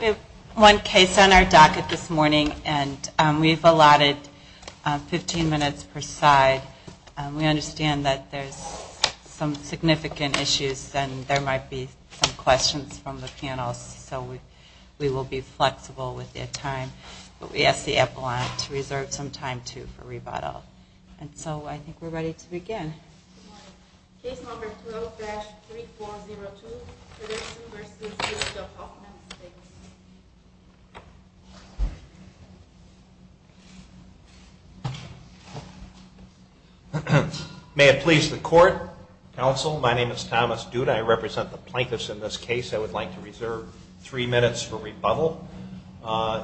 We have one case on our docket this morning, and we've allotted 15 minutes per side. We understand that there's some significant issues, and there might be some questions from the panels, so we will be flexible with the time. But we ask the epaulette to reserve some time, too, for rebuttal. And so I think we're ready to begin. Case number 12-3402, Villagersen v. Village of Hoffman Estates. May it please the court, counsel, my name is Thomas Dood. I represent the plaintiffs in this case. I would like to reserve three minutes for rebuttal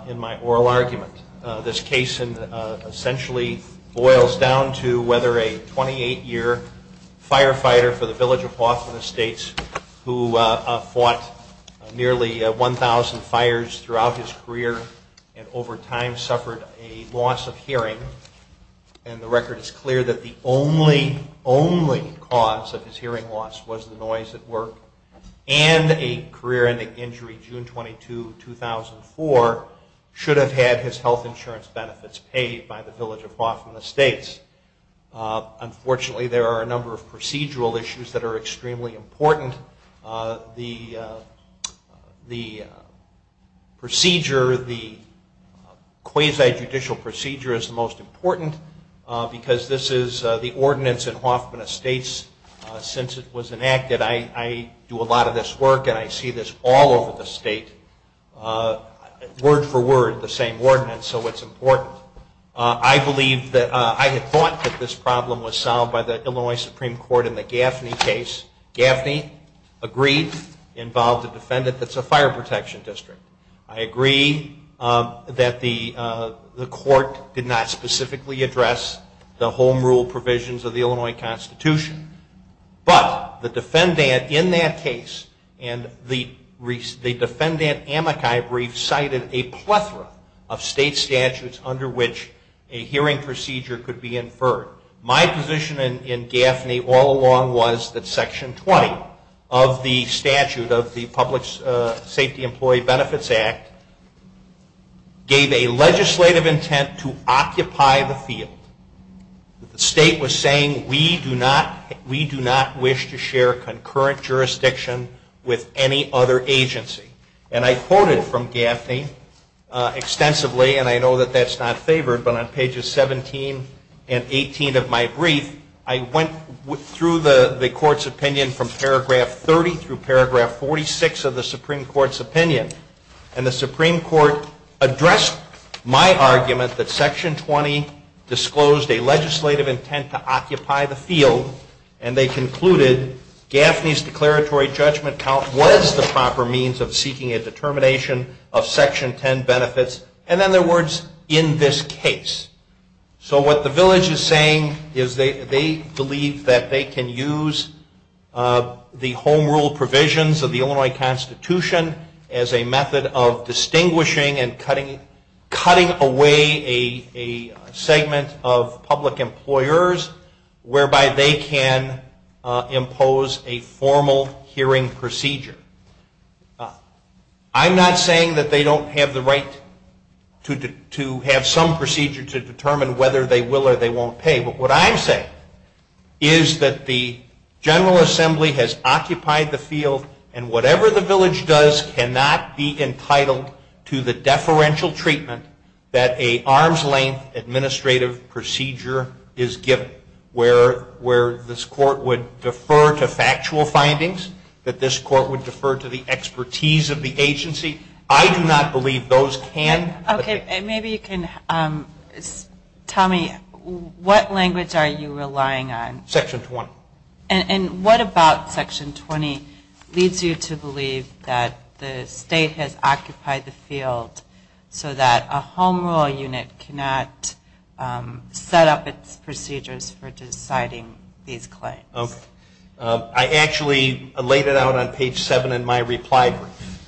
in my oral argument. This case, essentially, boils down to whether a 28-year firefighter for the Village of Hoffman Estates, who fought nearly 1,000 fires throughout the country, was able to get away with the crime. He lost his career and over time suffered a loss of hearing, and the record is clear that the only, only cause of his hearing loss was the noise at work. And a career-ending injury, June 22, 2004, should have had his health insurance benefits paid by the Village of Hoffman Estates. Unfortunately, there are a number of procedural issues that are extremely important. The procedure, the quasi-judicial procedure is the most important, because this is the ordinance in Hoffman Estates since it was enacted. I do a lot of this work and I see this all over the state, word for word, the same ordinance, so it's important. I believe that, I had thought that this problem was solved by the Illinois Supreme Court in the Gaffney case. Gaffney agreed, involved a defendant that's a fire protection district. I agree that the court did not specifically address the home rule provisions of the Illinois Constitution, but the defendant in that case and the defendant amicai brief cited a plethora of state statutes under which the Illinois Supreme Court was not able to address the home rule provisions of the Illinois Constitution. My position in Gaffney all along was that Section 20 of the statute of the Public Safety Employee Benefits Act gave a legislative intent to occupy the field. The state was saying we do not wish to share concurrent jurisdiction with any other agency. And I quoted from Gaffney extensively, and I know that that's not favored, but on pages 17 and 18 of my brief, I went through the court's opinion from paragraph 30 through paragraph 46 of the Supreme Court's opinion. And the Supreme Court addressed my argument that Section 20 disclosed a legislative intent to occupy the field, and they concluded Gaffney's declaratory judgment count was the proper means of seeking a determination of Section 10 benefits. And then their words, in this case. So what the village is saying is they believe that they can use the home rule provisions of the Illinois Constitution as a method of distinguishing and cutting away a segment of public employers whereby they can impose a formal hearing procedure. I'm not saying that they don't have the right to have some procedure to determine whether they will or they won't pay. But what I'm saying is that the General Assembly has occupied the field, and whatever the village does cannot be entitled to the deferential treatment that a arm's length administrative procedure is given. Where this court would defer to factual findings, that this court would defer to the expertise of the agency. I do not believe those can. Okay. And maybe you can tell me what language are you relying on? Section 20. And what about Section 20 leads you to believe that the state has occupied the field so that a home rule unit cannot set up its procedures for deciding these claims? I actually laid it out on page 7 in my reply brief.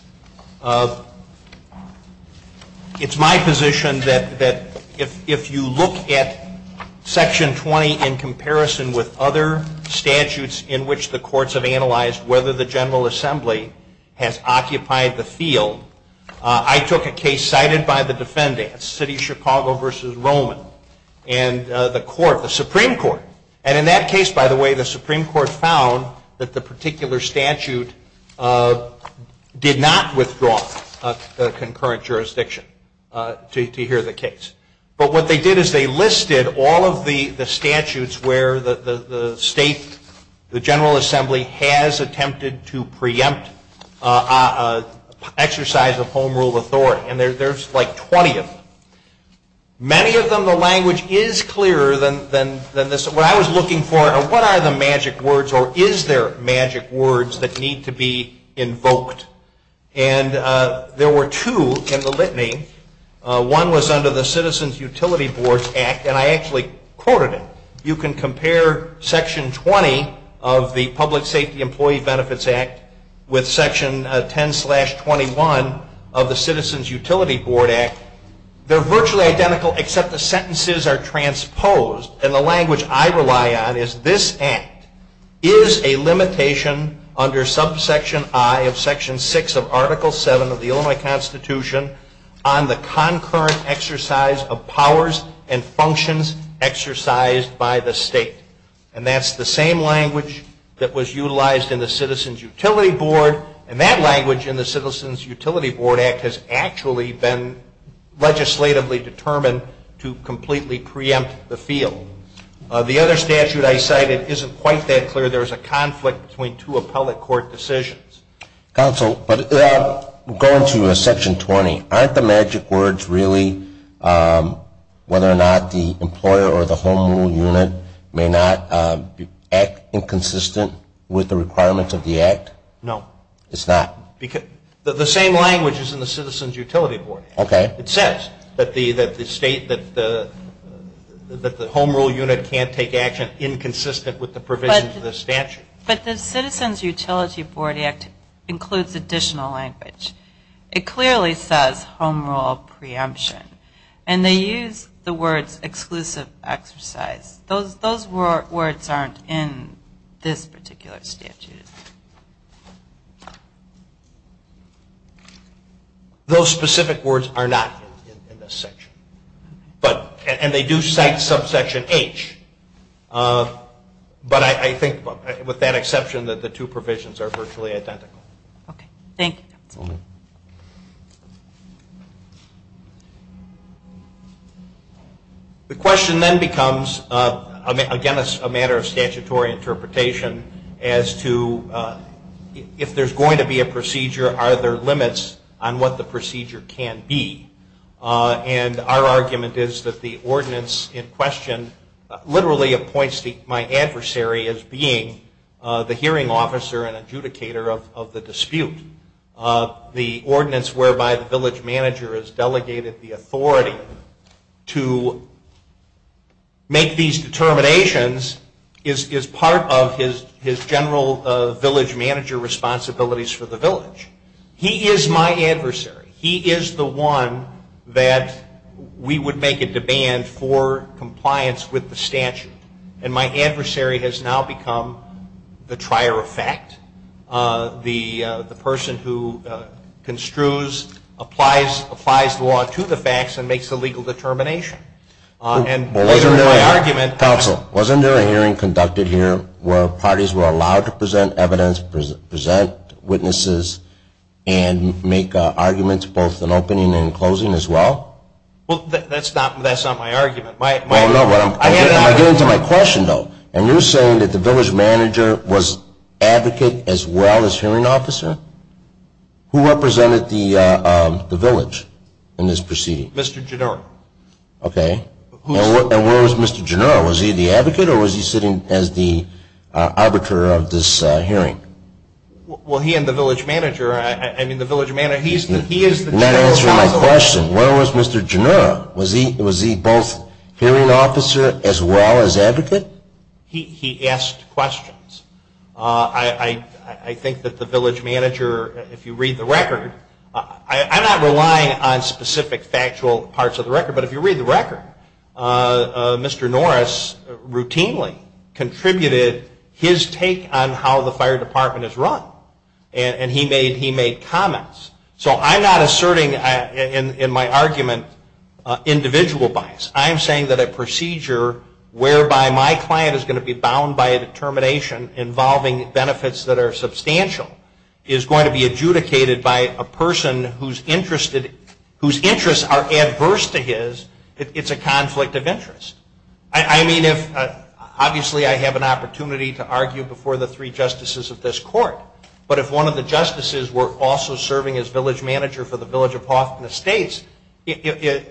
It's my position that if you look at Section 20 in comparison with other statutes in which the courts have analyzed whether the General Assembly has occupied the field, I took a case cited by the defendants, City of Chicago v. Roman, and the Supreme Court. And in that case, by the way, the Supreme Court found that the particular statute did not withdraw the concurrent jurisdiction to hear the case. But what they did is they listed all of the statutes where the state, the General Assembly, has attempted to preempt exercise of home rule authority. And there's like 20 of them. Many of them the language is clearer than this. What I was looking for are what are the magic words or is there magic words that need to be invoked? And there were two in the litany. One was under the Citizens Utility Board Act. And I actually quoted it. You can compare Section 20 of the Public Safety Employee Benefits Act with Section 10-21 of the Citizens Utility Board Act. They're virtually identical except the sentences are transposed. And the language I rely on is this act is a limitation under subsection I of Section 6 of Article 7 of the Illinois Constitution on the concurrent exercise of powers and functions exercised by the state. And that's the same language that was utilized in the Citizens Utility Board. And that language in the Citizens Utility Board Act has actually been legislatively determined to completely preempt the field. The other statute I cited isn't quite that clear. There's a conflict between two appellate court decisions. Counsel, but going to Section 20, aren't the magic words really whether or not the employer or the home rule unit may not act inconsistent with the requirements of the act? No. It's not? The same language is in the Citizens Utility Board Act. Okay. It says that the state, that the home rule unit can't take action inconsistent with the provisions of the statute. But the Citizens Utility Board Act includes additional language. It clearly says home rule preemption. And they use the words exclusive exercise. Those words aren't in this particular statute. Those specific words are not in this section. And they do cite subsection H. But I think with that exception that the two provisions are virtually identical. Okay. Thank you. The question then becomes, again, it's a matter of statutory interpretation as to if there's going to be a procedure, are there limits on what the procedure can be? And our argument is that the ordinance in question literally appoints my adversary as being the hearing officer and adjudicator of the dispute. The ordinance whereby the village manager has delegated the authority to make these determinations is part of his general village manager responsibilities for the village. He is my adversary. He is the one that we would make a demand for compliance with the statute. And my adversary has now become the trier of fact, the person who construes, applies law to the facts and makes the legal determination. Counsel, wasn't there a hearing conducted here where parties were allowed to present evidence, present witnesses, and make arguments both in opening and closing as well? Well, that's not my argument. I'm getting to my question, though. And you're saying that the village manager was advocate as well as hearing officer? Who represented the village in this proceeding? Mr. Gennaro. Okay. And where was Mr. Gennaro? Was he the advocate or was he sitting as the arbiter of this hearing? Well, he and the village manager, I mean, the village manager, he is the general counsel. You're not answering my question. Where was Mr. Gennaro? Was he both hearing officer as well as advocate? He asked questions. I think that the village manager, if you read the record, I'm not relying on specific factual parts of the record, but if you read the record, Mr. Norris routinely contributed his take on how the fire department is run. And he made comments. So I'm not asserting in my argument individual bias. I'm saying that a procedure whereby my client is going to be bound by a determination involving benefits that are substantial is going to be adjudicated by a person whose interests are adverse to his, it's a conflict of interest. I mean, obviously, I have an opportunity to argue before the three justices of this court, but if one of the justices were also serving as village manager for the village of Hawthorne Estates, it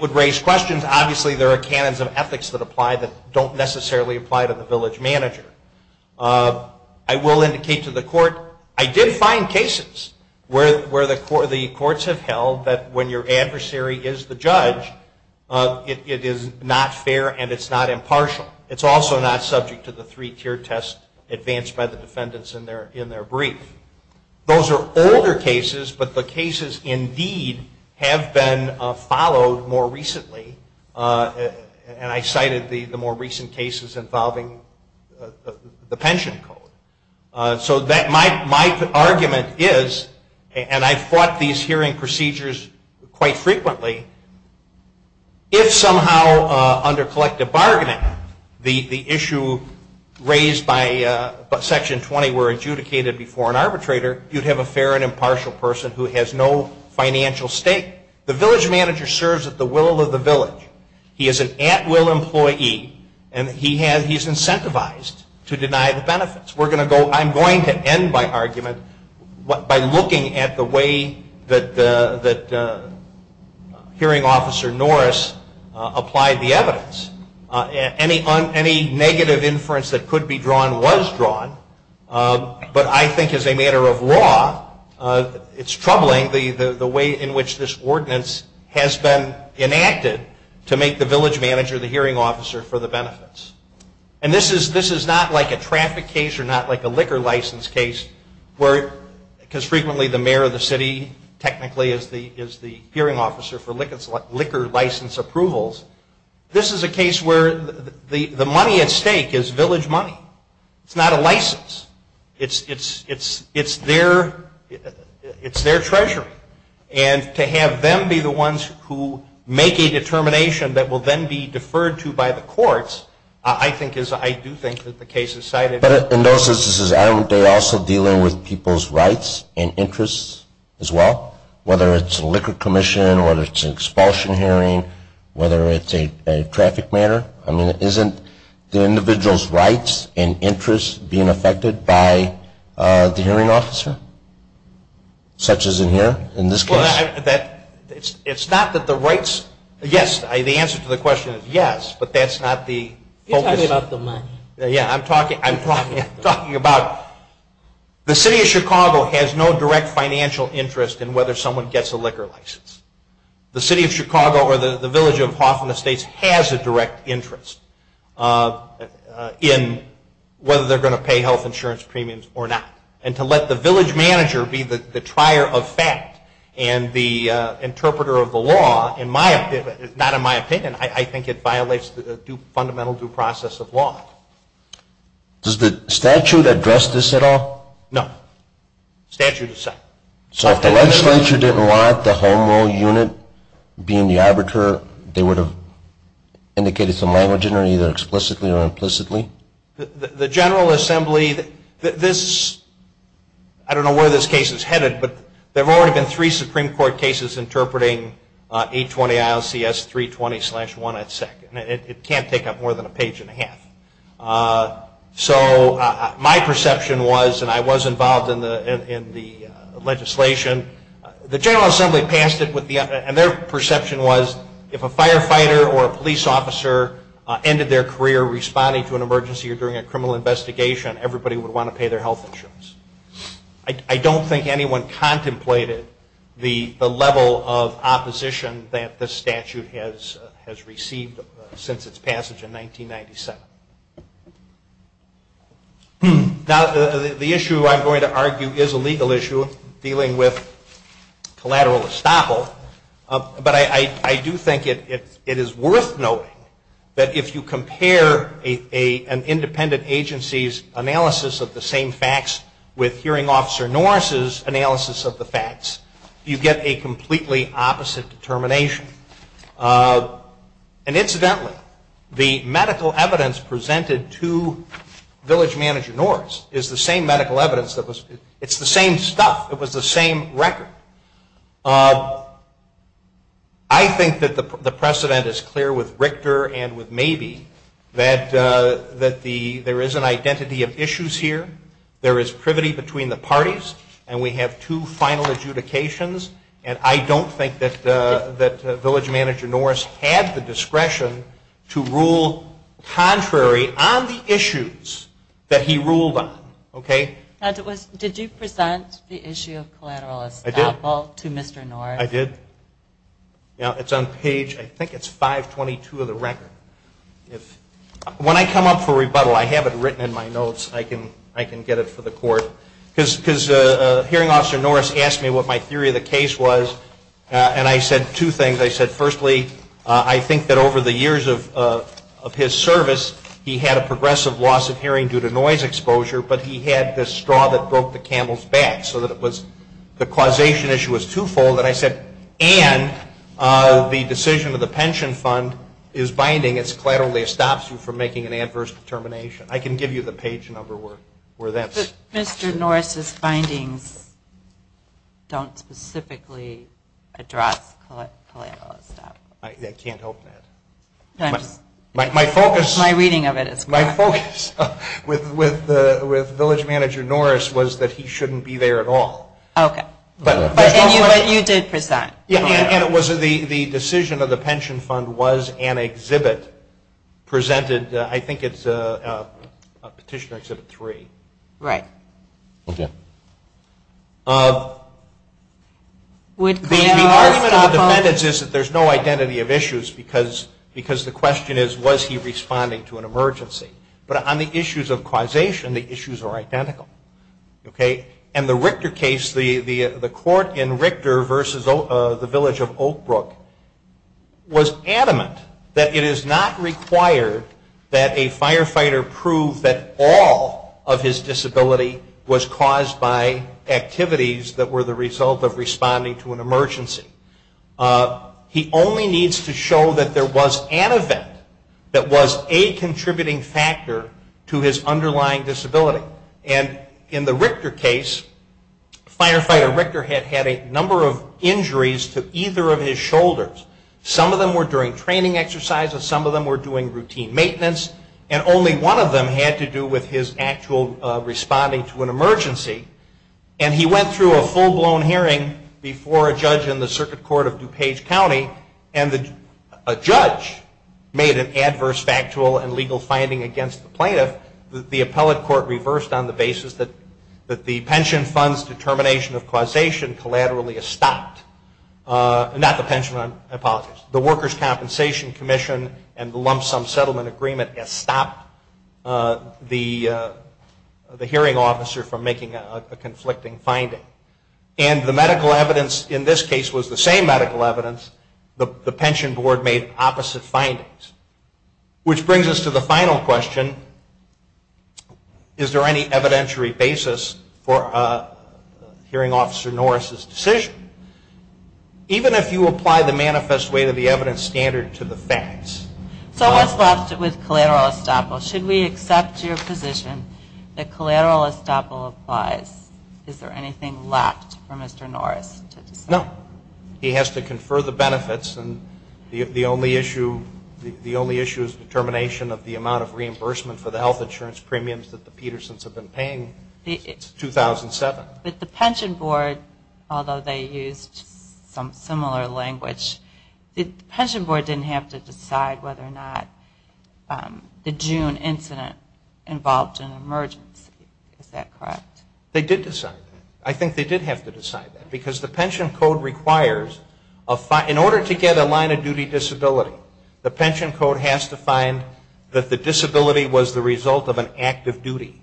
would raise questions. Obviously, there are canons of ethics that apply that don't necessarily apply to the village manager. I will indicate to the court, I did find cases where the courts have held that when your adversary is the judge, it is not fair and it's not impartial. It's also not subject to the three-tiered test advanced by the defendants in their brief. Those are older cases, but the cases indeed have been followed more recently. And I cited the more recent cases involving the pension code. So my argument is, and I've fought these hearing procedures quite frequently, if somehow under collective bargaining the issue raised by Section 20 were adjudicated before an arbitrator, you'd have a fair and impartial person who has no financial stake. The village manager serves at the will of the village. He is an at-will employee and he has, he's incentivized to deny the benefits. We're going to go, I'm going to end my argument by looking at the way that hearing officer Norris applied the evidence. Any negative inference that could be drawn was drawn, but I think as a matter of law, it's troubling the way in which this ordinance has been enacted to make the village manager the hearing officer for the benefits. And this is not like a traffic case or not like a liquor license case where, because frequently the mayor of the city technically is the hearing officer for liquor license approvals. This is a case where the money at stake is village money. It's not a license. It's their treasury. And to have them be the ones who make a determination that will then be deferred to by the courts, I think is, I do think that the case is cited. But in those instances, aren't they also dealing with people's rights and interests as well? Whether it's a liquor commission, whether it's an expulsion hearing, whether it's a traffic matter. I mean, isn't the individual's rights and interests being affected by the hearing officer, such as in here, in this case? It's not that the rights, yes, the answer to the question is yes, but that's not the focus. You're talking about the money. Yeah, I'm talking about the city of Chicago has no direct financial interest in whether someone gets a liquor license. The city of Chicago or the village of Hoffman Estates has a direct interest in whether they're going to pay health insurance premiums or not. And to let the village manager be the trier of fact and the interpreter of the law, not in my opinion, I think it violates the fundamental due process of law. Does the statute address this at all? No. Statute aside. So if the legislature didn't want the home rule unit being the arbiter, they would have indicated some language in there either explicitly or implicitly? The General Assembly, this, I don't know where this case is headed, but there have already been three Supreme Court cases interpreting 820 ILCS 320-1 at second. It can't take up more than a page and a half. So my perception was, and I was involved in the legislation, the General Assembly passed it with the, and their perception was if a firefighter or a police officer ended their career responding to an emergency or during a criminal investigation, everybody would want to pay their health insurance. I don't think anyone contemplated the level of opposition that this statute has received since its passage in 1997. Now, the issue I'm going to argue is a legal issue dealing with collateral estoppel, but I do think it is worth noting that if you compare an independent agency's analysis of the same facts with hearing officer Norris's analysis of the facts, you get a completely opposite determination. And incidentally, the medical evidence presented to village manager Norris is the same medical evidence that was, it's the same stuff. It was the same record. I think that the precedent is clear with Richter and with Mabee, that there is an identity of issues here. There is privity between the parties, and we have two final adjudications. And I don't think that village manager Norris had the discretion to rule contrary on the issues that he ruled on. Okay? Did you present the issue of collateral estoppel? I did. To Mr. Norris. I did. It's on page, I think it's 522 of the record. When I come up for rebuttal, I have it written in my notes. I can get it for the court. Because hearing officer Norris asked me what my theory of the case was, and I said two things. I said, firstly, I think that over the years of his service, he had a progressive loss of hearing due to noise exposure, but he had this straw that broke the camel's back, so that the causation issue was twofold. And I said, and the decision of the pension fund is binding. It's collateral estoppel for making an adverse determination. I can give you the page number where that's. But Mr. Norris's findings don't specifically address collateral estoppel. I can't help that. My reading of it is correct. My focus with village manager Norris was that he shouldn't be there at all. Okay. But you did present. And it was the decision of the pension fund was an exhibit presented, I think it's Petitioner Exhibit 3. Right. Okay. The argument of the defendants is that there's no identity of issues because the question is was he responding to an emergency. But on the issues of causation, the issues are identical. Okay. And the Richter case, the court in Richter versus the village of Oak Brook was adamant that it is not required that a firefighter prove that all of his disability was caused by activities that were the result of responding to an emergency. He only needs to show that there was an event that was a contributing factor to his underlying disability. And in the Richter case, firefighter Richter had had a number of injuries to either of his shoulders. Some of them were during training exercises. Some of them were doing routine maintenance. And only one of them had to do with his actual responding to an emergency. And he went through a full-blown hearing before a judge in the Circuit Court of DuPage County, and a judge made an adverse factual and legal finding against the plaintiff that the appellate court reversed on the basis that the pension fund's determination of causation collaterally is stopped. Not the pension fund. I apologize. The Workers' Compensation Commission and the lump sum settlement agreement has stopped the hearing officer from making a conflicting finding. And the medical evidence in this case was the same medical evidence. The pension board made opposite findings. Which brings us to the final question. Is there any evidentiary basis for hearing officer Norris's decision? Even if you apply the manifest way to the evidence standard to the facts. So what's left with collateral estoppel? Should we accept your position that collateral estoppel applies? Is there anything left for Mr. Norris to decide? No. He has to confer the benefits, and the only issue is determination of the amount of reimbursement for the health insurance premiums that the Petersons have been paying since 2007. But the pension board, although they used some similar language, the pension board didn't have to decide whether or not the June incident involved an emergency. Is that correct? They did decide that. I think they did have to decide that. Because the pension code requires, in order to get a line of duty disability, the pension code has to find that the disability was the result of an act of duty.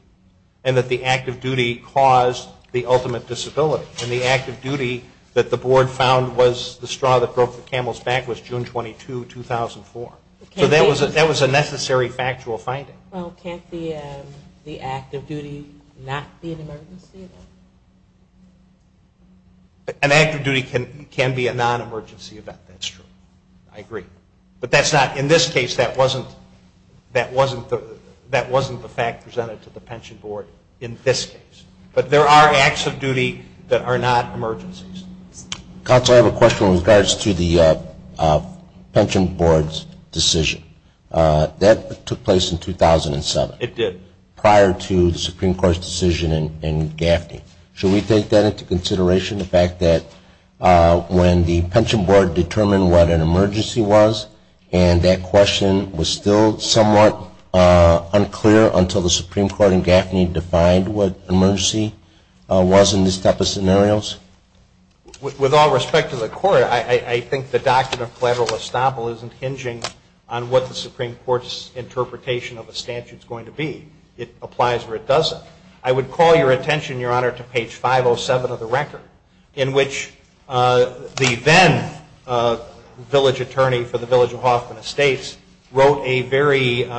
And that the act of duty caused the ultimate disability. And the act of duty that the board found was the straw that broke the camel's back was June 22, 2004. So that was a necessary factual finding. Well, can't the act of duty not be an emergency? An act of duty can be a non-emergency event. That's true. I agree. But that's not, in this case, that wasn't the fact presented to the pension board in this case. But there are acts of duty that are not emergencies. Counsel, I have a question in regards to the pension board's decision. That took place in 2007. It did. Prior to the Supreme Court's decision in Gaffney. Should we take that into consideration? The fact that when the pension board determined what an emergency was, and that question was still somewhat unclear until the Supreme Court in Gaffney defined what emergency was in this type of scenario? With all respect to the Court, I think the doctrine of collateral estoppel isn't hinging on what the Supreme Court's interpretation It applies or it doesn't. I would call your attention, Your Honor, to page 507 of the record, in which the then village attorney for the village of Hoffman Estates wrote a very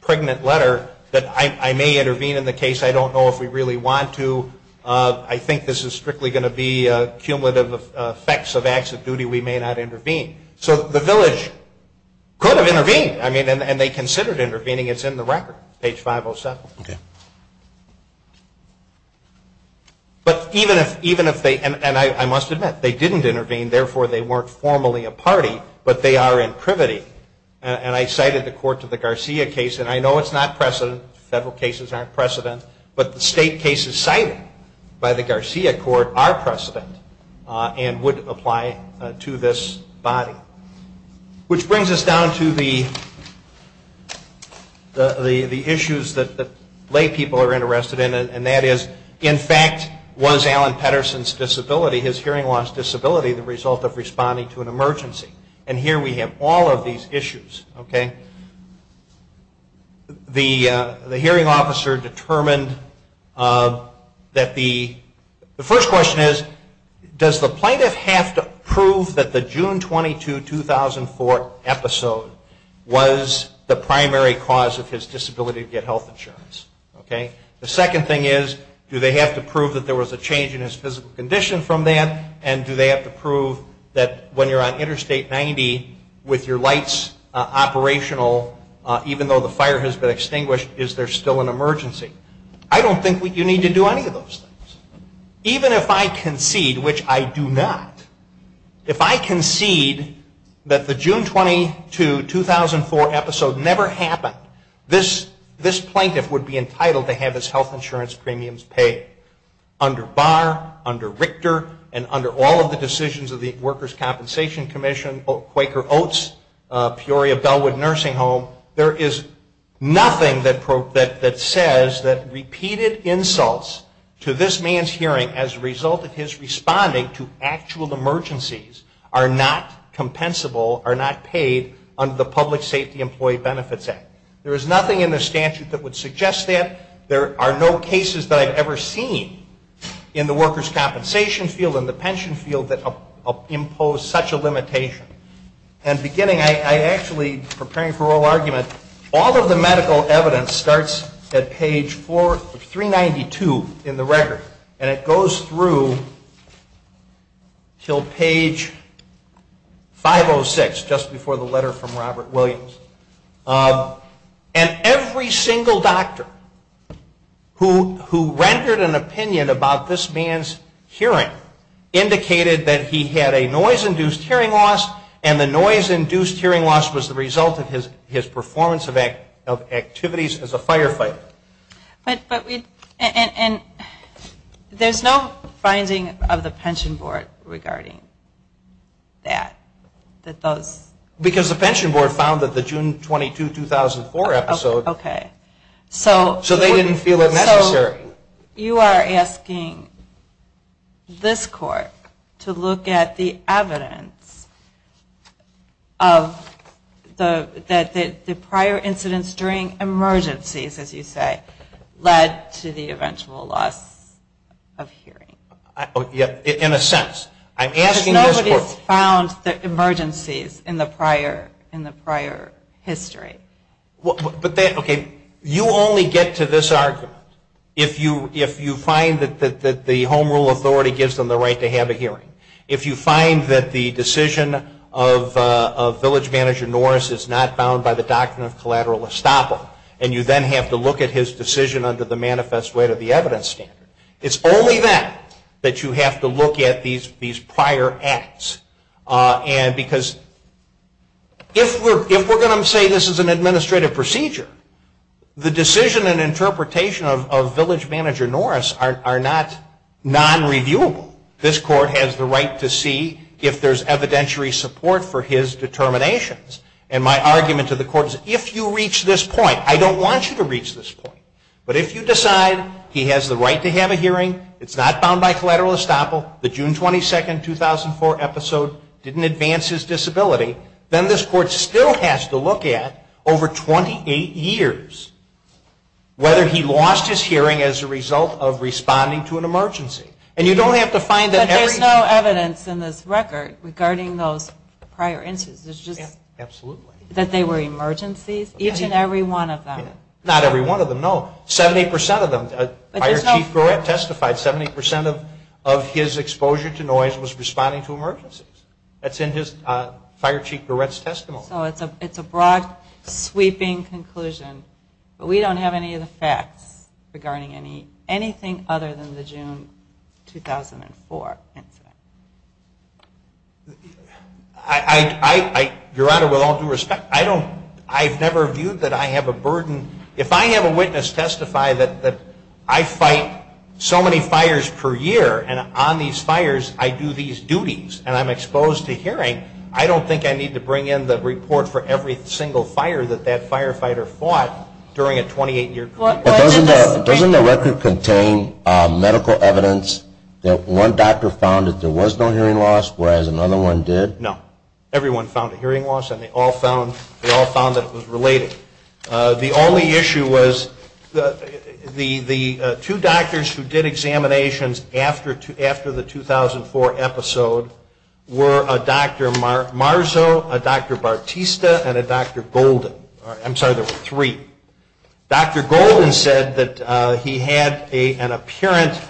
pregnant letter that I may intervene in the case. I don't know if we really want to. I think this is strictly going to be cumulative effects of acts of duty. We may not intervene. So the village could have intervened, and they considered intervening. It's in the record, page 507. Okay. But even if they, and I must admit, they didn't intervene, therefore they weren't formally a party, but they are in privity. And I cited the court to the Garcia case, and I know it's not precedent. Federal cases aren't precedent. But the state cases cited by the Garcia court are precedent and would apply to this body. Which brings us down to the issues that lay people are interested in, and that is, in fact, was Alan Petterson's disability, his hearing loss disability, the result of responding to an emergency? And here we have all of these issues. Okay. The hearing officer determined that the first question is, does the plaintiff have to prove that the June 22, 2004, episode was the primary cause of his disability to get health insurance? Okay. The second thing is, do they have to prove that there was a change in his physical condition from that, and do they have to prove that when you're on Interstate 90 with your lights operational, even though the fire has been extinguished, is there still an emergency? I don't think you need to do any of those things. Even if I concede, which I do not, if I concede that the June 22, 2004 episode never happened, this plaintiff would be entitled to have his health insurance premiums paid. Under Barr, under Richter, and under all of the decisions of the Workers' Compensation Commission, Quaker Oats, Peoria Bellwood Nursing Home, there is nothing that says that repeated insults to this man's hearing as a result of his responding to actual emergencies are not compensable, are not paid under the Public Safety Employee Benefits Act. There is nothing in the statute that would suggest that. There are no cases that I've ever seen in the workers' compensation field and the pension field that impose such a limitation. And beginning, I actually, preparing for oral argument, all of the medical evidence starts at page 392 in the record, and it goes through until page 506, just before the letter from Robert Williams. And every single doctor who rendered an opinion about this man's hearing indicated that he had a noise-induced hearing loss, and the noise-induced hearing loss was the result of his performance of activities as a firefighter. But we, and there's no finding of the pension board regarding that, that those. Because the pension board found that the June 22, 2004 episode. Okay. So they didn't feel it necessary. You are asking this court to look at the evidence of the prior incidents during emergencies, as you say, led to the eventual loss of hearing. In a sense. I'm asking this court. Because nobody's found the emergencies in the prior history. Okay. You only get to this argument if you find that the home rule authority gives them the right to have a hearing. If you find that the decision of village manager Norris is not bound by the doctrine of collateral estoppel, and you then have to look at his decision under the manifest way to the evidence standard. It's only then that you have to look at these prior acts. And because if we're going to say this is an administrative procedure, the decision and interpretation of village manager Norris are not non-reviewable. This court has the right to see if there's evidentiary support for his determinations. And my argument to the court is if you reach this point, I don't want you to reach this point, but if you decide he has the right to have a hearing, it's not bound by collateral estoppel, the June 22nd, 2004 episode didn't advance his disability, then this court still has to look at over 28 years whether he lost his hearing as a result of responding to an emergency. And you don't have to find that every... But there's no evidence in this record regarding those prior incidents. There's just... Absolutely. That they were emergencies? Each and every one of them. Not every one of them, no. 70% of them. Fire Chief Gourette testified 70% of his exposure to noise was responding to emergencies. That's in Fire Chief Gourette's testimony. So it's a broad sweeping conclusion, but we don't have any of the facts regarding anything other than the June 2004 incident. Your Honor, with all due respect, I don't... I've never viewed that I have a burden. If I have a witness testify that I fight so many fires per year and on these fires I do these duties and I'm exposed to hearing, I don't think I need to bring in the report for every single fire that that firefighter fought during a 28-year period. Doesn't the record contain medical evidence that one doctor found that there was no hearing loss whereas another one did? No. Everyone found a hearing loss and they all found that it was related. The only issue was the two doctors who did examinations after the 2004 episode were a Dr. Marzo, a Dr. Bartista, and a Dr. Golden. I'm sorry, there were three. Dr. Golden said that he had an apparent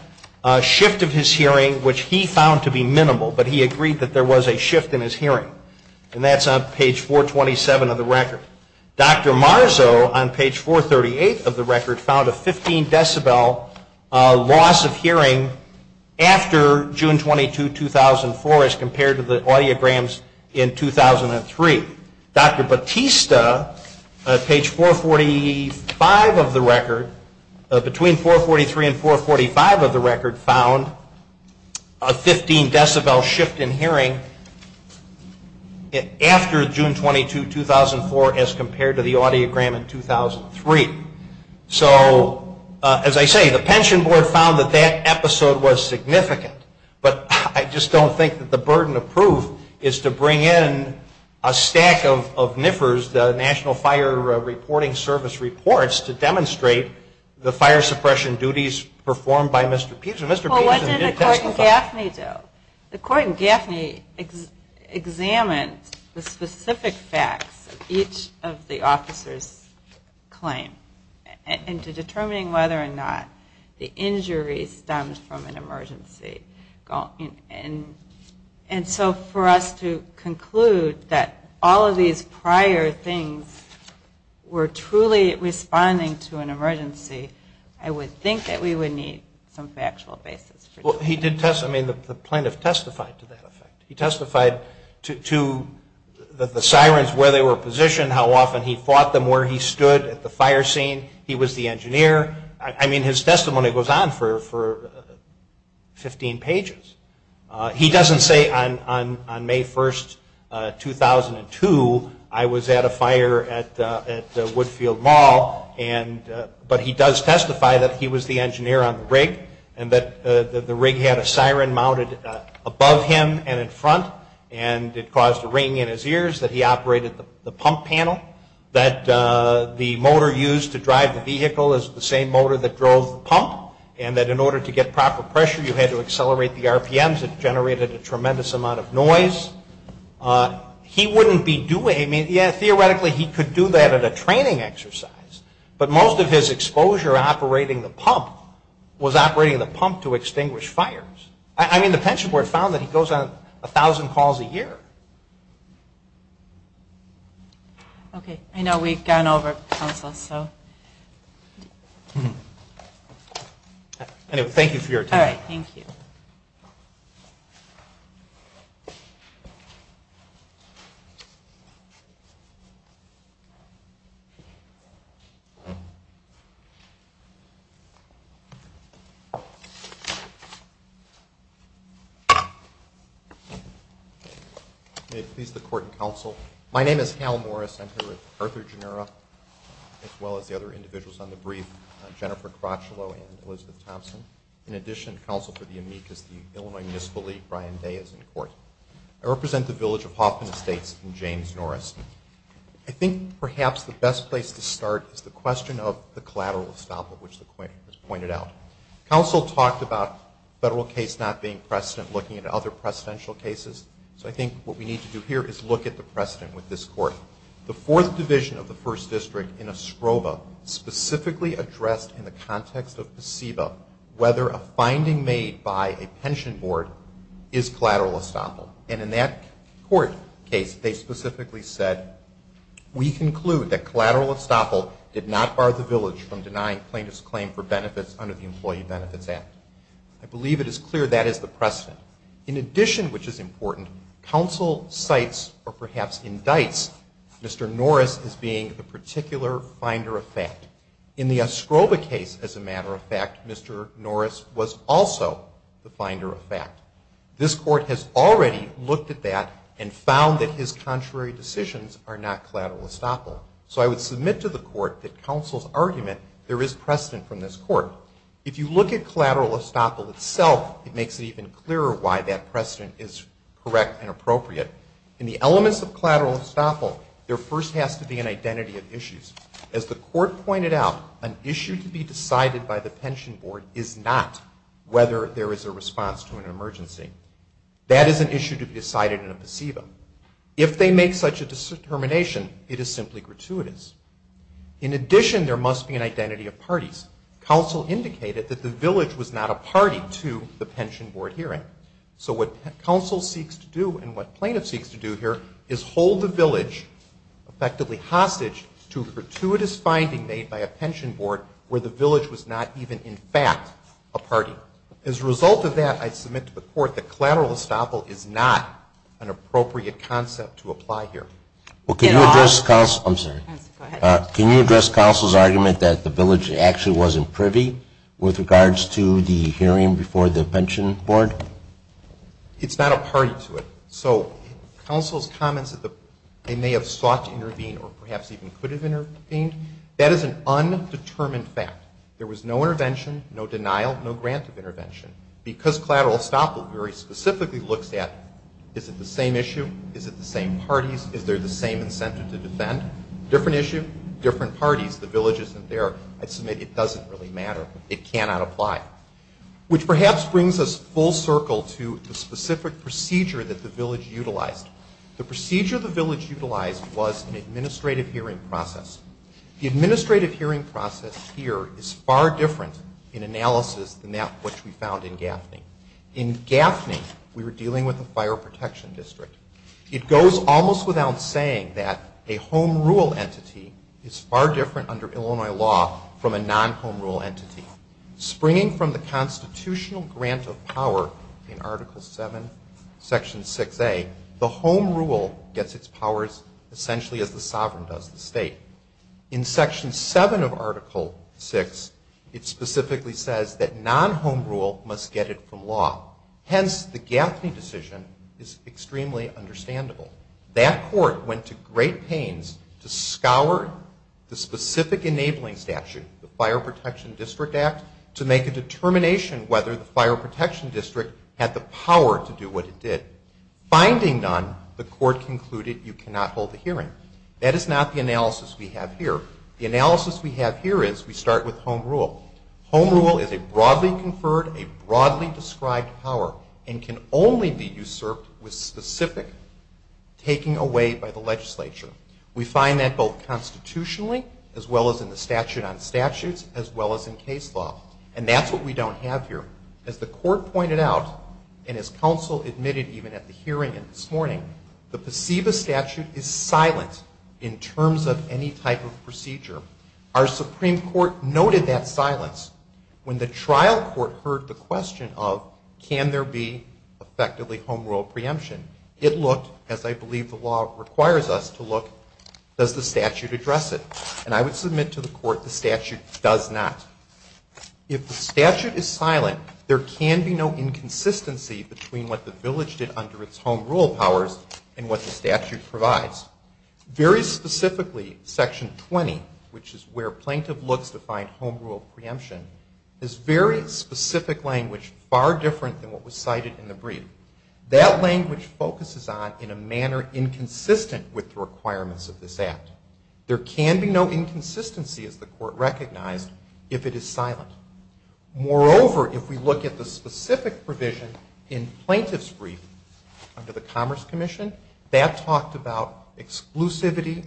shift of his hearing, which he found to be minimal, but he agreed that there was a shift in his hearing. And that's on page 427 of the record. Dr. Marzo on page 438 of the record found a 15 decibel loss of hearing after June 22, 2004 as compared to the audiograms in 2003. Dr. Bartista on page 445 of the record, between 443 and 445 of the record, found a 15 decibel shift in hearing after June 22, 2004 as compared to the audiogram in 2003. So as I say, the Pension Board found that that episode was significant. But I just don't think that the burden of proof is to bring in a stack of NIFRS, the National Fire Reporting Service reports, to demonstrate the fire was caused. Well, what did the court in Gaffney do? The court in Gaffney examined the specific facts of each of the officers' claim into determining whether or not the injury stemmed from an emergency. And so for us to conclude that all of these prior things were truly responding to an emergency, I would think that we would need some factual basis. Well, the plaintiff testified to that effect. He testified to the sirens, where they were positioned, how often he fought them, where he stood at the fire scene. He was the engineer. I mean, his testimony goes on for 15 pages. He doesn't say on May 1, 2002, I was at a fire at Woodfield Mall. But he does testify that he was the engineer on the rig and that the rig had a siren mounted above him and in front and it caused a ring in his ears, that he operated the pump panel, that the motor used to drive the vehicle is the same motor that drove the pump, and that in order to get proper pressure, you had to use RPMs that generated a tremendous amount of noise. He wouldn't be doing it. I mean, yeah, theoretically, he could do that at a training exercise. But most of his exposure operating the pump was operating the pump to extinguish fires. I mean, the pension board found that he goes on 1,000 calls a year. Okay. I know we've gone over, counsel, so. Anyway, thank you for your time. All right, thank you. May it please the court and counsel, my name is Hal Morris. I'm here with Arthur Gennura, as well as the other individuals on the brief, Jennifer Crotchlow and Elizabeth Thompson. In addition, counsel for the amicus, the Illinois Municipal League, Brian Day is in court. I represent the village of Hoffman Estates in James Norris. I think perhaps the best place to start is the question of the collateral estoppel, which was pointed out. Counsel talked about federal case not being precedent looking at other precedential cases. So I think what we need to do here is look at the precedent with this court. The fourth division of the first district in escroba, specifically addressed in the context of placebo, whether a finding made by a pension board is collateral estoppel. And in that court case, they specifically said, we conclude that collateral estoppel did not bar the village from denying plaintiff's claim for benefits under the Employee Benefits Act. I believe it is clear that is the precedent. In addition, which is important, counsel cites or perhaps indicts Mr. Norris as a particular finder of fact. In the escroba case, as a matter of fact, Mr. Norris was also the finder of fact. This court has already looked at that and found that his contrary decisions are not collateral estoppel. So I would submit to the court that counsel's argument, there is precedent from this court. If you look at collateral estoppel itself, it makes it even clearer why that precedent is correct and appropriate. In the elements of collateral estoppel, there first has to be an identity of issues. As the court pointed out, an issue to be decided by the pension board is not whether there is a response to an emergency. That is an issue to be decided in a placebo. If they make such a determination, it is simply gratuitous. In addition, there must be an identity of parties. Counsel indicated that the village was not a party to the pension board hearing. So what counsel seeks to do and what plaintiff seeks to do here is hold the village, effectively hostage, to a gratuitous finding made by a pension board where the village was not even in fact a party. As a result of that, I submit to the court that collateral estoppel is not an appropriate concept to apply here. Can you address counsel's argument that the village actually wasn't privy with regards to the hearing before the pension board? It's not a party to it. So counsel's comments that they may have sought to intervene or perhaps even could have intervened, that is an undetermined fact. There was no intervention, no denial, no grant of intervention. Because collateral estoppel very specifically looks at, is it the same issue? Is it the same parties? Is there the same incentive to defend? Different issue, different parties. The village isn't there. I submit it doesn't really matter. It cannot apply. Which perhaps brings us full circle to the specific procedure that the village utilized. The procedure the village utilized was an administrative hearing process. The administrative hearing process here is far different in analysis than that which we found in Gaffney. In Gaffney, we were dealing with the fire protection district. It goes almost without saying that a home rule entity is far different under Illinois law from a non-home rule entity. Springing from the constitutional grant of power in Article 7, Section 6A, the home rule gets its powers essentially as the sovereign does the state. In Section 7 of Article 6, it specifically says that non-home rule must get it from law. Hence, the Gaffney decision is extremely understandable. That court went to great pains to scour the specific enabling statute, the Fire Protection District Act, to make a determination whether the fire protection district had the power to do what it did. Finding none, the court concluded you cannot hold the hearing. That is not the analysis we have here. The analysis we have here is we start with home rule. Home rule is a broadly conferred, a broadly described power and can only be usurped with specific taking away by the legislature. We find that both constitutionally, as well as in the statute on statutes, as well as in case law. And that's what we don't have here. As the court pointed out, and as counsel admitted even at the hearing this morning, the PSEBA statute is silent in terms of any type of procedure. Our Supreme Court noted that silence when the trial court heard the question of can there be effectively home rule preemption. It looked, as I believe the law requires us to look, does the statute address it? And I would submit to the court the statute does not. If the statute is silent, there can be no inconsistency between what the village did under its home rule powers and what the statute provides. Very specifically, Section 20, which is where plaintiff looks to find home rule preemption, is very specific language, far different than what was cited in the brief. That language focuses on in a manner inconsistent with the requirements of this act. There can be no inconsistency, as the court recognized, if it is silent. Moreover, if we look at the specific provision in plaintiff's brief under the Commerce Commission, that talked about exclusivity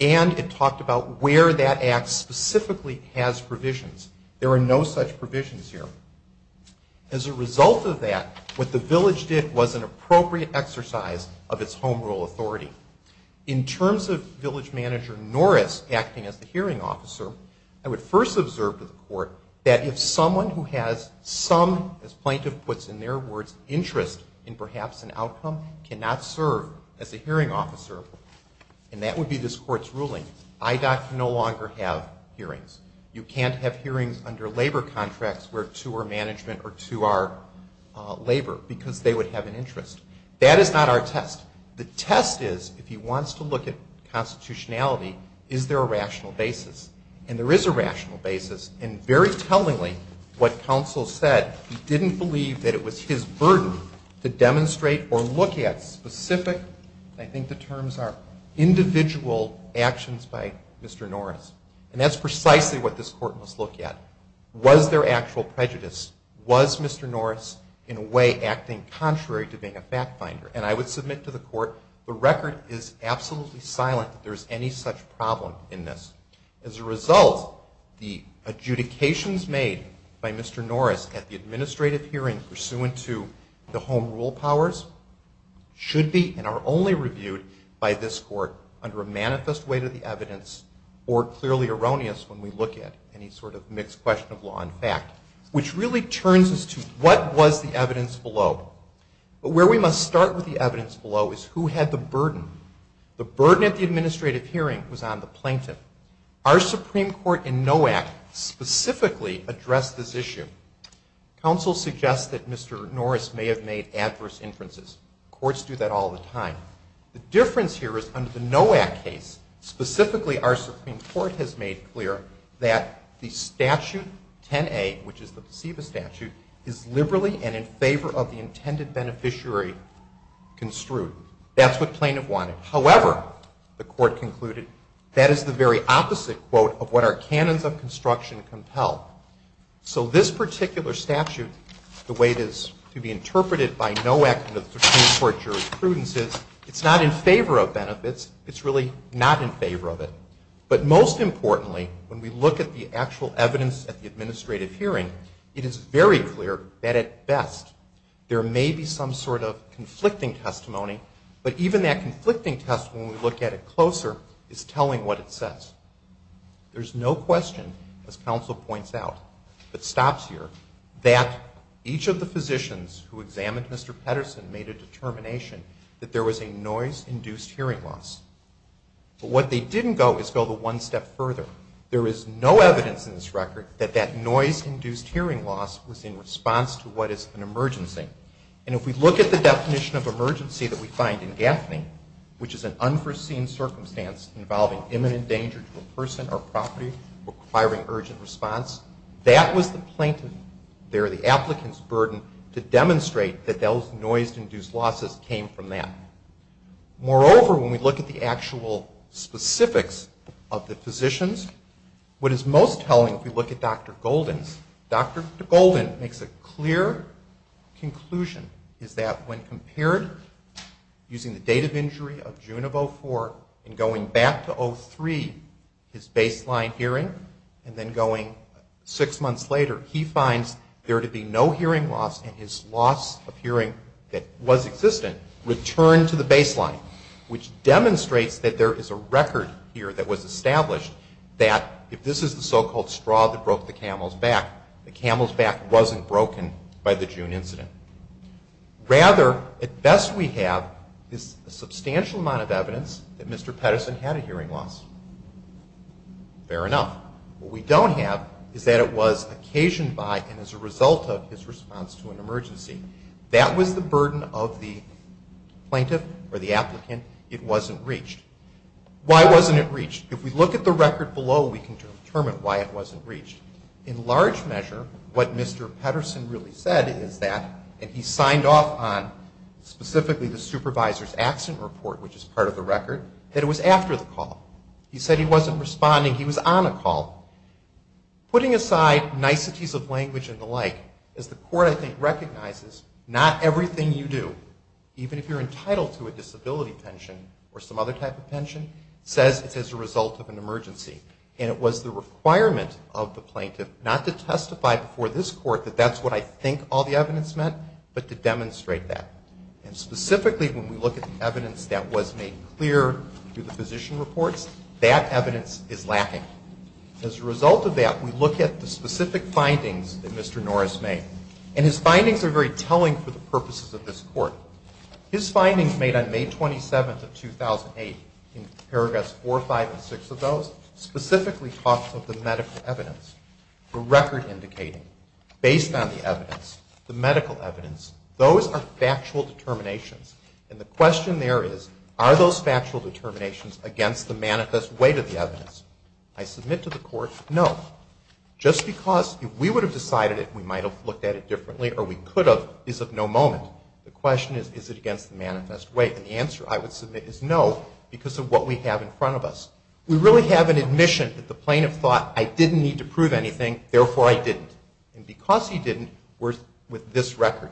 and it talked about where that act specifically has provisions. There are no such provisions here. As a result of that, what the village did was an appropriate exercise of its home rule authority. In terms of village manager Norris acting as the hearing officer, I would first observe to the court that if someone who has some, as plaintiff puts in their words, interest in perhaps an outcome, cannot serve as a hearing officer, and that would be this court's ruling, IDOT can no longer have hearings. You can't have hearings under labor contracts to our management or to our labor, because they would have an interest. That is not our test. The test is, if he wants to look at constitutionality, is there a rational basis? And there is a rational basis. And very tellingly, what counsel said, he didn't believe that it was his burden to demonstrate or look at specific, I think the terms are individual actions by Mr. Norris. And that's precisely what this court must look at. Was there actual prejudice? Was Mr. Norris, in a way, acting contrary to being a fact finder? And I would submit to the court the record is absolutely silent that there is any such problem in this. As a result, the adjudications made by Mr. Norris at the administrative hearing pursuant to the home rule powers should be and are only reviewed by this court under a manifest weight of the evidence or clearly erroneous when we look at any sort of mixed question of law and fact, which really turns us to what was the evidence below. But where we must start with the evidence below is who had the burden? The burden at the administrative hearing was on the plaintiff. Our Supreme Court in NOAC specifically addressed this issue. Counsel suggests that Mr. Norris may have made adverse inferences. Courts do that all the time. The difference here is under the NOAC case, specifically our Supreme Court has made clear that the statute 10A, which is the placebo statute, is liberally and in favor of the intended beneficiary construed. That's what plaintiff wanted. However, the court concluded, that is the very opposite, quote, of what our canons of construction compel. So this particular statute, the way it is to be interpreted by NOAC and the Supreme Court jurisprudence is it's not in favor of benefits. It's really not in favor of it. But most importantly, when we look at the actual evidence at the administrative hearing, it is very clear that at best there may be some sort of conflicting testimony, but even that conflicting testimony, when we look at it closer, is telling what it says. There's no question, as counsel points out, that stops here, that each of the physicians who examined Mr. Pedersen made a determination that there was a noise-induced hearing loss. But what they didn't go is go the one step further. There is no evidence in this record that that noise-induced hearing loss was in response to what is an emergency. And if we look at the definition of emergency that we find in Gaffney, requiring urgent response, that was the plaintiff, there the applicant's burden to demonstrate that those noise-induced losses came from that. Moreover, when we look at the actual specifics of the physicians, what is most telling if we look at Dr. Golden's, Dr. Golden makes a clear conclusion is that when compared using the date of baseline hearing and then going six months later, he finds there to be no hearing loss and his loss of hearing that was existent returned to the baseline, which demonstrates that there is a record here that was established that if this is the so-called straw that broke the camel's back, the camel's back wasn't broken by the June incident. Rather, at best we have a substantial amount of evidence that Mr. Pedersen had a hearing loss. Fair enough. What we don't have is that it was occasioned by and as a result of his response to an emergency. That was the burden of the plaintiff or the applicant. It wasn't reached. Why wasn't it reached? If we look at the record below, we can determine why it wasn't reached. In large measure, what Mr. Pedersen really said is that, and he signed off on specifically the supervisor's accident report, which is part of the record, that it was after the call. He said he wasn't responding, he was on a call. Putting aside niceties of language and the like, as the court I think recognizes, not everything you do, even if you're entitled to a disability pension or some other type of pension, says it's as a result of an emergency. And it was the requirement of the plaintiff not to testify before this court that that's what I think all the evidence meant, but to demonstrate that. And specifically when we look at the evidence that was made clear through the physician reports, that evidence is lacking. As a result of that, we look at the specific findings that Mr. Norris made, and his findings are very telling for the purposes of this court. His findings made on May 27th of 2008, in paragraphs 4, 5, and 6 of those, specifically talk of the medical evidence, the record indicating, based on the evidence, the medical evidence. Those are factual determinations. And the question there is, are those factual determinations against the manifest weight of the evidence? I submit to the court, no. Just because if we would have decided it, we might have looked at it differently, or we could have, is of no moment. The question is, is it against the manifest weight? And the answer I would submit is no, because of what we have in front of us. We really have an admission that the plaintiff thought, I didn't need to prove anything, therefore I didn't. And because he didn't, we're with this record.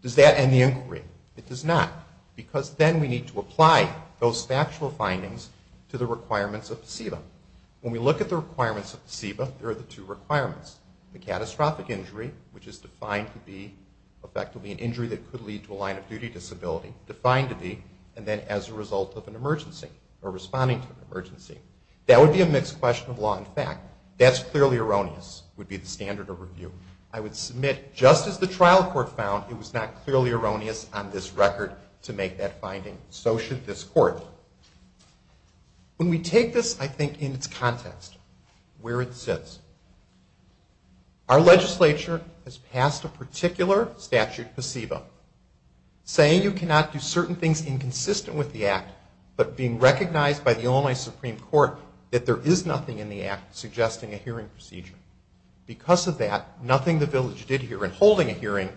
Does that end the inquiry? It does not, because then we need to apply those factual findings to the requirements of the CEBA. When we look at the requirements of the CEBA, there are the two requirements. The catastrophic injury, which is defined to be effectively an injury that could lead to a line-of-duty disability, defined to be, and then as a result of an emergency, or responding to an emergency. That would be a mixed question of law and fact. That's clearly erroneous, would be the standard of review. I would submit, just as the trial court found, it was not clearly erroneous on this record to make that finding. So should this court. When we take this, I think, in its context, where it sits. Our legislature has passed a particular statute, the CEBA, saying you cannot do certain things inconsistent with the act, but being recognized by the Illinois Supreme Court that there is nothing in the act suggesting a hearing procedure. Because of that, nothing the village did here in holding a hearing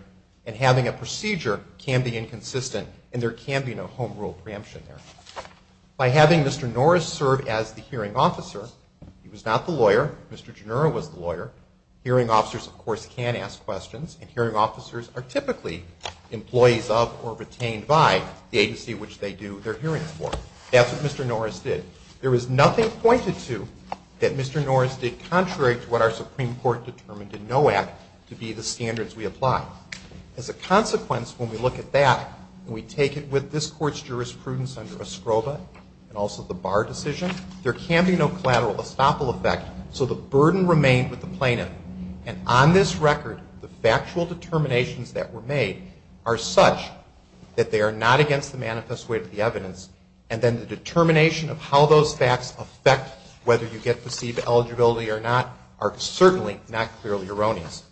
and having a procedure can be inconsistent, and there can be no home rule preemption there. By having Mr. Norris serve as the hearing officer, he was not the lawyer. Mr. Gennaro was the lawyer. Hearing officers, of course, can ask questions, and hearing officers are typically employees of or retained by the agency which they do their hearings for. That's what Mr. Norris did. There was nothing pointed to that Mr. Norris did contrary to what our Supreme Court determined in NOAC to be the standards we apply. As a consequence, when we look at that and we take it with this court's jurisprudence under escroba and also the Barr decision, there can be no collateral estoppel effect, so the burden remained with the plaintiff. And on this record, the factual determinations that were made are such that they are not against the manifest way of the evidence, and then the determination of how those facts affect whether you get placebo eligibility or not are certainly not clearly erroneous.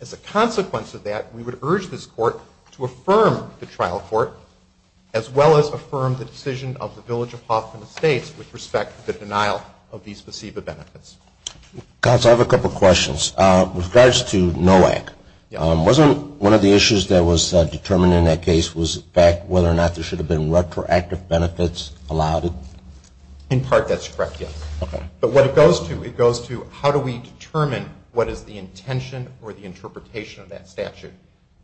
As a consequence of that, we would urge this court to affirm the trial court as well as affirm the decision of the Village of Hawthorne Estates with respect to the denial of these placebo benefits. Counsel, I have a couple of questions. With regards to NOAC, wasn't one of the issues that was determined in that case was the fact whether or not there should have been retroactive benefits allowed? In part, that's correct, yes. But what it goes to, it goes to how do we determine what is the intention or the interpretation of that statute,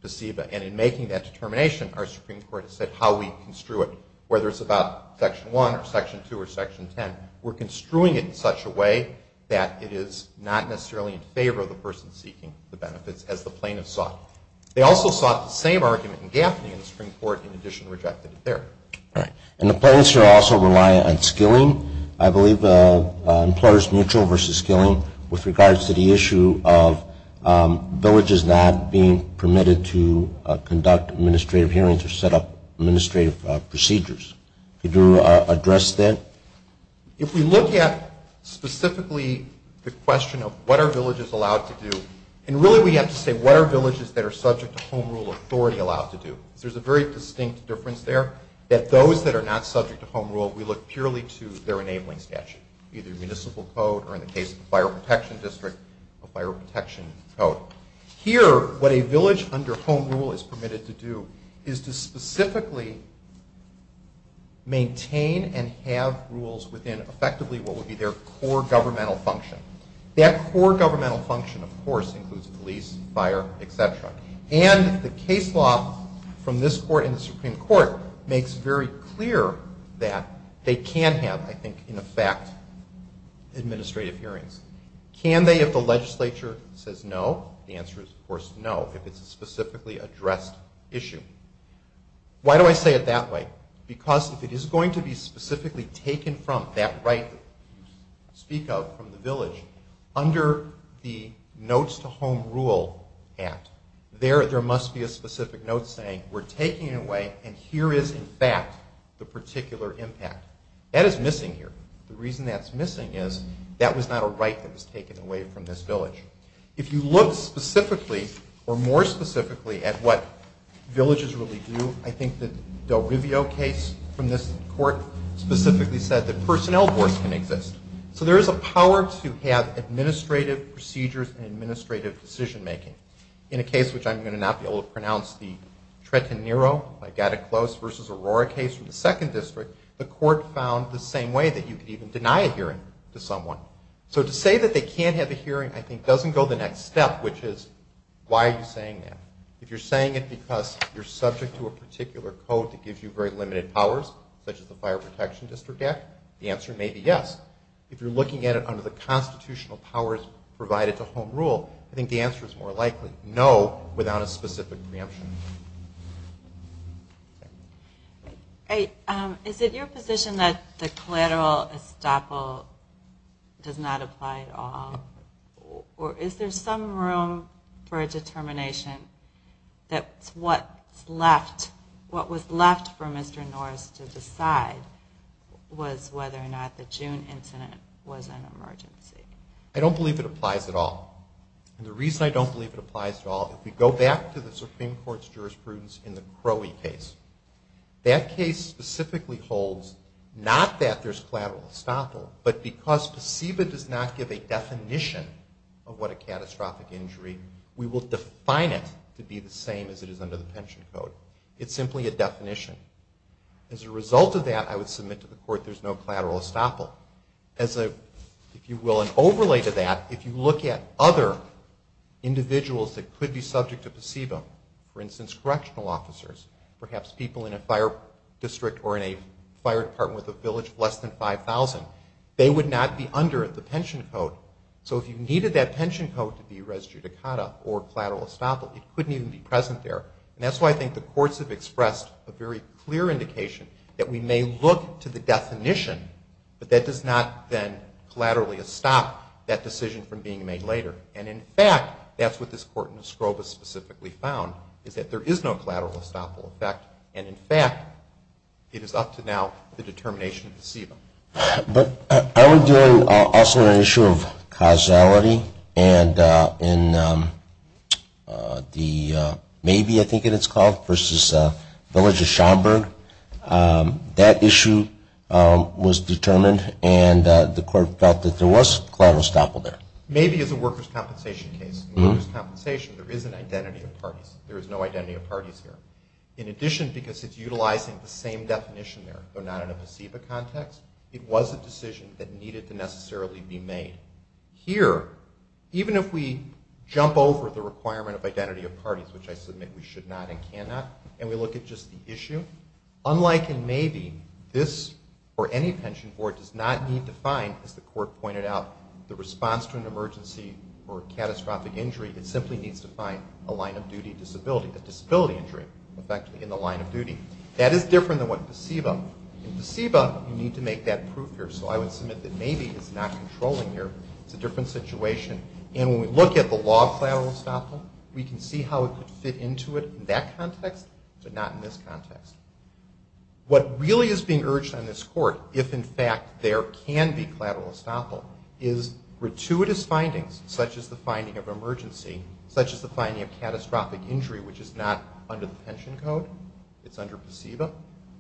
placebo, and in making that determination our Supreme Court has said how we construe it, whether it's about Section 1 or Section 2 or Section 10, we're construing it in such a way that it is not necessarily in favor of the person seeking the benefits as the plaintiff sought. They also sought the same argument in Gaffney and the Supreme Court in addition to rejecting it there. All right. And the plaintiffs here also rely on skilling. I believe employers mutual versus skilling with regards to the issue of villages not being permitted to conduct administrative hearings or set up administrative procedures. Could you address that? If we look at specifically the question of what are villages allowed to do, and really we have to say what are villages that are subject to Home Rule authority allowed to do. There's a very distinct difference there that those that are not subject to Home Rule, we look purely to their enabling statute, either Municipal Code or in the case of the Fire Protection District, a Fire Protection Code. Here, what a village under Home Rule is permitted to do is to specifically maintain and have rules within effectively what would be their core governmental function. That core governmental function, of course, includes police, fire, et cetera. And the case law from this Court and the Supreme Court makes very clear that they can have, I think, in effect, administrative hearings. Can they if the legislature says no? The answer is, of course, no if it's a specifically addressed issue. Why do I say it that way? Because if it is going to be specifically taken from that right that you speak of from the village under the Notes to Home Rule Act, there must be a specific note saying we're taking it away and here is, in fact, the particular impact. That is missing here. The reason that's missing is that was not a right that was taken away from this village. If you look specifically or more specifically at what villages really do, I think the Del Rivio case from this Court specifically said that personnel boards can exist. So there is a power to have administrative procedures and administrative decision-making. In a case which I'm going to not be able to pronounce, the Treta Nero by Gattaclose v. Aurora case from the 2nd District, the Court found the same way that you could even deny a hearing to someone. So to say that they can't have a hearing, I think, doesn't go the next step, which is why are you saying that? If you're saying it because you're subject to a particular code that gives you very limited powers, such as the Fire Protection District Act, the answer may be yes. If you're looking at it under the constitutional powers provided to Home Rule, I think the answer is more likely no without a specific preemption. Is it your position that the collateral estoppel does not apply at all? Or is there some room for a determination that what was left for Mr. Norris to decide was whether or not the June incident was an emergency? I don't believe it applies at all. And the reason I don't believe it applies at all, if we go back to the Supreme Court's jurisprudence in the Crowey case, that case specifically holds not that there's collateral estoppel, but because PSEBA does not give a definition of what a catastrophic injury, we will define it to be the same as it is under the pension code. It's simply a definition. As a result of that, I would submit to the court there's no collateral estoppel. As a, if you will, an overlay to that, if you look at other individuals that could be subject to PSEBA, for instance, correctional officers, perhaps people in a fire district or in a fire department with a village of less than 5,000, they would not be under the pension code. So if you needed that pension code to be res judicata or collateral estoppel, it couldn't even be present there. And that's why I think the courts have expressed a very clear indication that we may look to the definition, but that does not then collaterally estop that decision from being made later. And, in fact, that's what this court in Escobar specifically found, is that there is no collateral estoppel effect. And, in fact, it is up to now the determination of PSEBA. But are we doing also an issue of causality? And in the maybe, I think it is called, versus village of Schaumburg, that issue was determined and the court felt that there was collateral estoppel there. Maybe as a workers' compensation case. In workers' compensation, there is an identity of parties. There is no identity of parties here. In addition, because it's utilizing the same definition there, though not in a PSEBA context, it was a decision that needed to necessarily be made. Here, even if we jump over the requirement of identity of parties, which I submit we should not and cannot, and we look at just the issue, unlike in maybe, this or any pension board does not need to find, as the court pointed out, the response to an emergency or catastrophic injury. It simply needs to find a line-of-duty disability, a disability injury, effectively in the line of duty. That is different than what PSEBA. In PSEBA, you need to make that proof here. So I would submit that maybe is not controlling here. It's a different situation. And when we look at the law of collateral estoppel, we can see how it could fit into it in that context, but not in this context. What really is being urged on this court, if in fact there can be collateral estoppel, is gratuitous findings, such as the finding of emergency, such as the finding of catastrophic injury, which is not under the pension code, it's under PSEBA,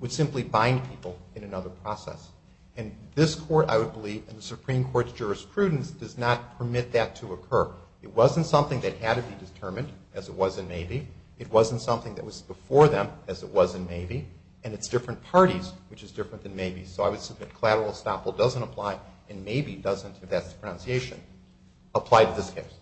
would simply bind people in another process. And this court, I would believe, and the Supreme Court's jurisprudence does not permit that to occur. It wasn't something that had to be determined, as it was in maybe. It wasn't something that was before them, as it was in maybe. And it's different parties, which is different than maybe. So I would submit collateral estoppel doesn't apply, and maybe doesn't, if that's the pronunciation, apply to this case.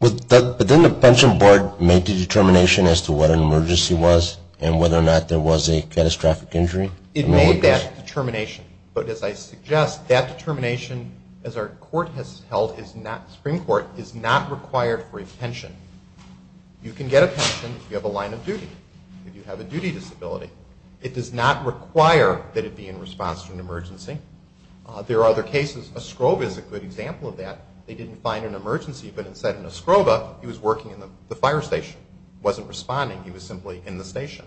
But didn't the pension board make the determination as to what an emergency was and whether or not there was a catastrophic injury? It made that determination. But as I suggest, that determination, as our court has held, Supreme Court, is not required for a pension. You can get a pension if you have a line of duty, if you have a duty disability. It does not require that it be in response to an emergency. There are other cases. A scrove is a good example of that. They didn't find an emergency, but instead, in a scrove, he was working in the fire station. He wasn't responding. He was simply in the station.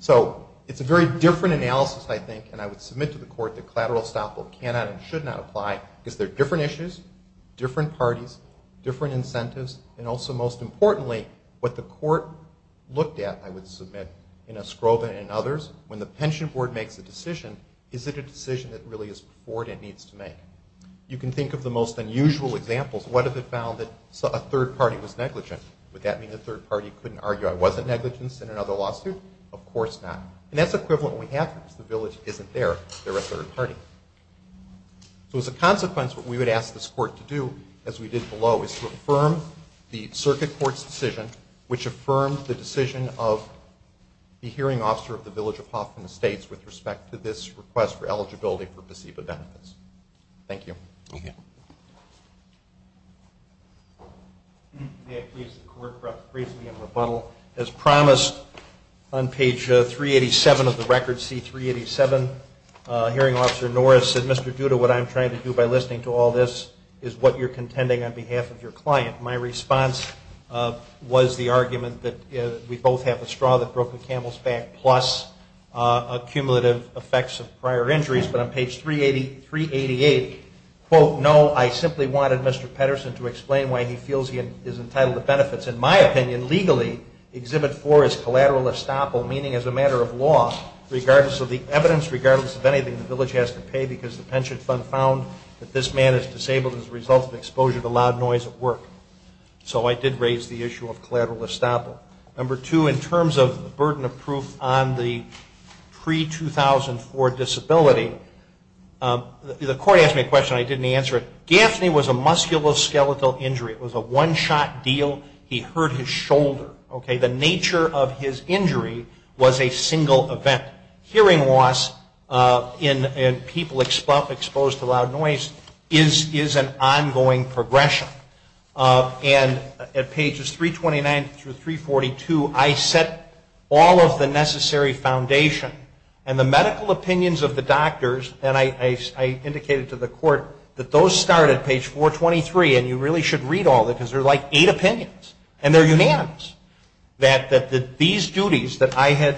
So it's a very different analysis, I think, and I would submit to the court that collateral estoppel cannot and should not apply because they're different issues, different parties, different incentives, and also, most importantly, what the court looked at, I would submit, in a scrove and in others. When the pension board makes a decision, is it a decision that really is before it and needs to make? You can think of the most unusual examples. What if it found that a third party was negligent? Would that mean the third party couldn't argue I wasn't negligent in another lawsuit? Of course not. And that's equivalent when we have them. The village isn't there. They're a third party. So as a consequence, what we would ask this court to do, as we did below, is to affirm the circuit court's decision, which affirmed the decision of the hearing officer of the village of Hoffman Estates with respect to this request for eligibility for placebo benefits. Thank you. Thank you. May I please have the court briefly in rebuttal? As promised, on page 387 of the record, C387, hearing officer Norris said, Mr. Duda, what I'm trying to do by listening to all this is what you're contending on behalf of your client. My response was the argument that we both have a straw that broke a camel's back, plus accumulative effects of prior injuries. But on page 388, quote, no, I simply wanted Mr. Pedersen to explain why he feels he is entitled to benefits, in my opinion, legally, exhibit for his collateral estoppel, meaning as a matter of law, regardless of the evidence, regardless of anything, the village has to pay because the pension fund found that this man is disabled as a result of exposure to loud noise at work. So I did raise the issue of collateral estoppel. Number two, in terms of the burden of proof on the pre-2004 disability, the court asked me a question. I didn't answer it. Gaffney was a musculoskeletal injury. It was a one-shot deal. He hurt his shoulder. The nature of his injury was a single event. Hearing loss in people exposed to loud noise is an ongoing progression. And at pages 329 through 342, I set all of the necessary foundation and the medical opinions of the doctors, and I indicated to the court that those start at page 423, and you really should read all of it because there are like eight opinions, and they're unanimous, that these duties that I had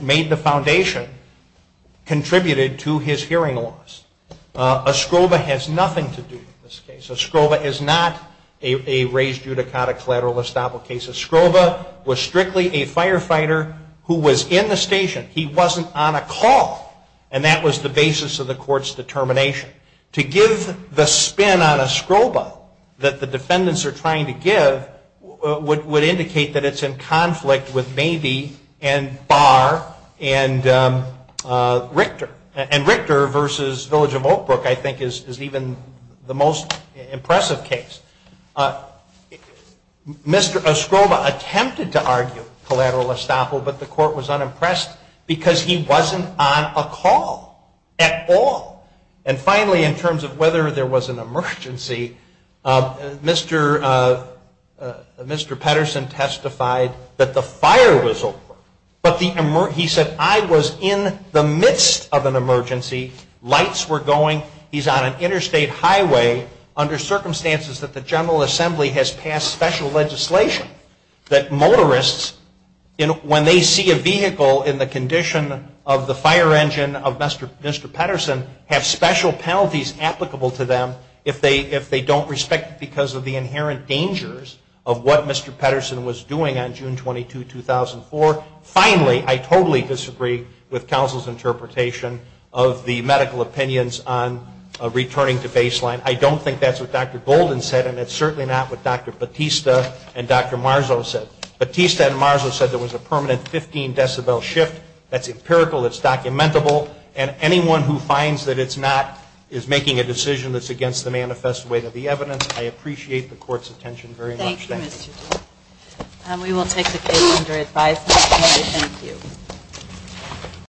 made the foundation contributed to his hearing loss. A scrova has nothing to do with this case. A scrova is not a raised judicata collateral estoppel case. A scrova was strictly a firefighter who was in the station. He wasn't on a call, and that was the basis of the court's determination. To give the spin on a scrova that the defendants are trying to give would indicate that it's in conflict with Mabee and Barr and Richter, and Richter versus Village of Oak Brook I think is even the most impressive case. A scrova attempted to argue collateral estoppel, but the court was unimpressed because he wasn't on a call at all. And finally, in terms of whether there was an emergency, Mr. Petterson testified that the fire was over, but he said, I was in the midst of an emergency, lights were going, he's on an interstate highway, under circumstances that the General Assembly has passed special legislation that motorists, when they see a vehicle in the condition of the fire engine in the condition of Mr. Petterson, have special penalties applicable to them if they don't respect it because of the inherent dangers of what Mr. Petterson was doing on June 22, 2004. Finally, I totally disagree with counsel's interpretation of the medical opinions on returning to baseline. I don't think that's what Dr. Golden said, and it's certainly not what Dr. Batista and Dr. Marzo said. Batista and Marzo said there was a permanent 15 decibel shift. That's empirical. It's documentable. And anyone who finds that it's not is making a decision that's against the manifest weight of the evidence. I appreciate the Court's attention very much. Thank you. We will take the case under advisement. Thank you.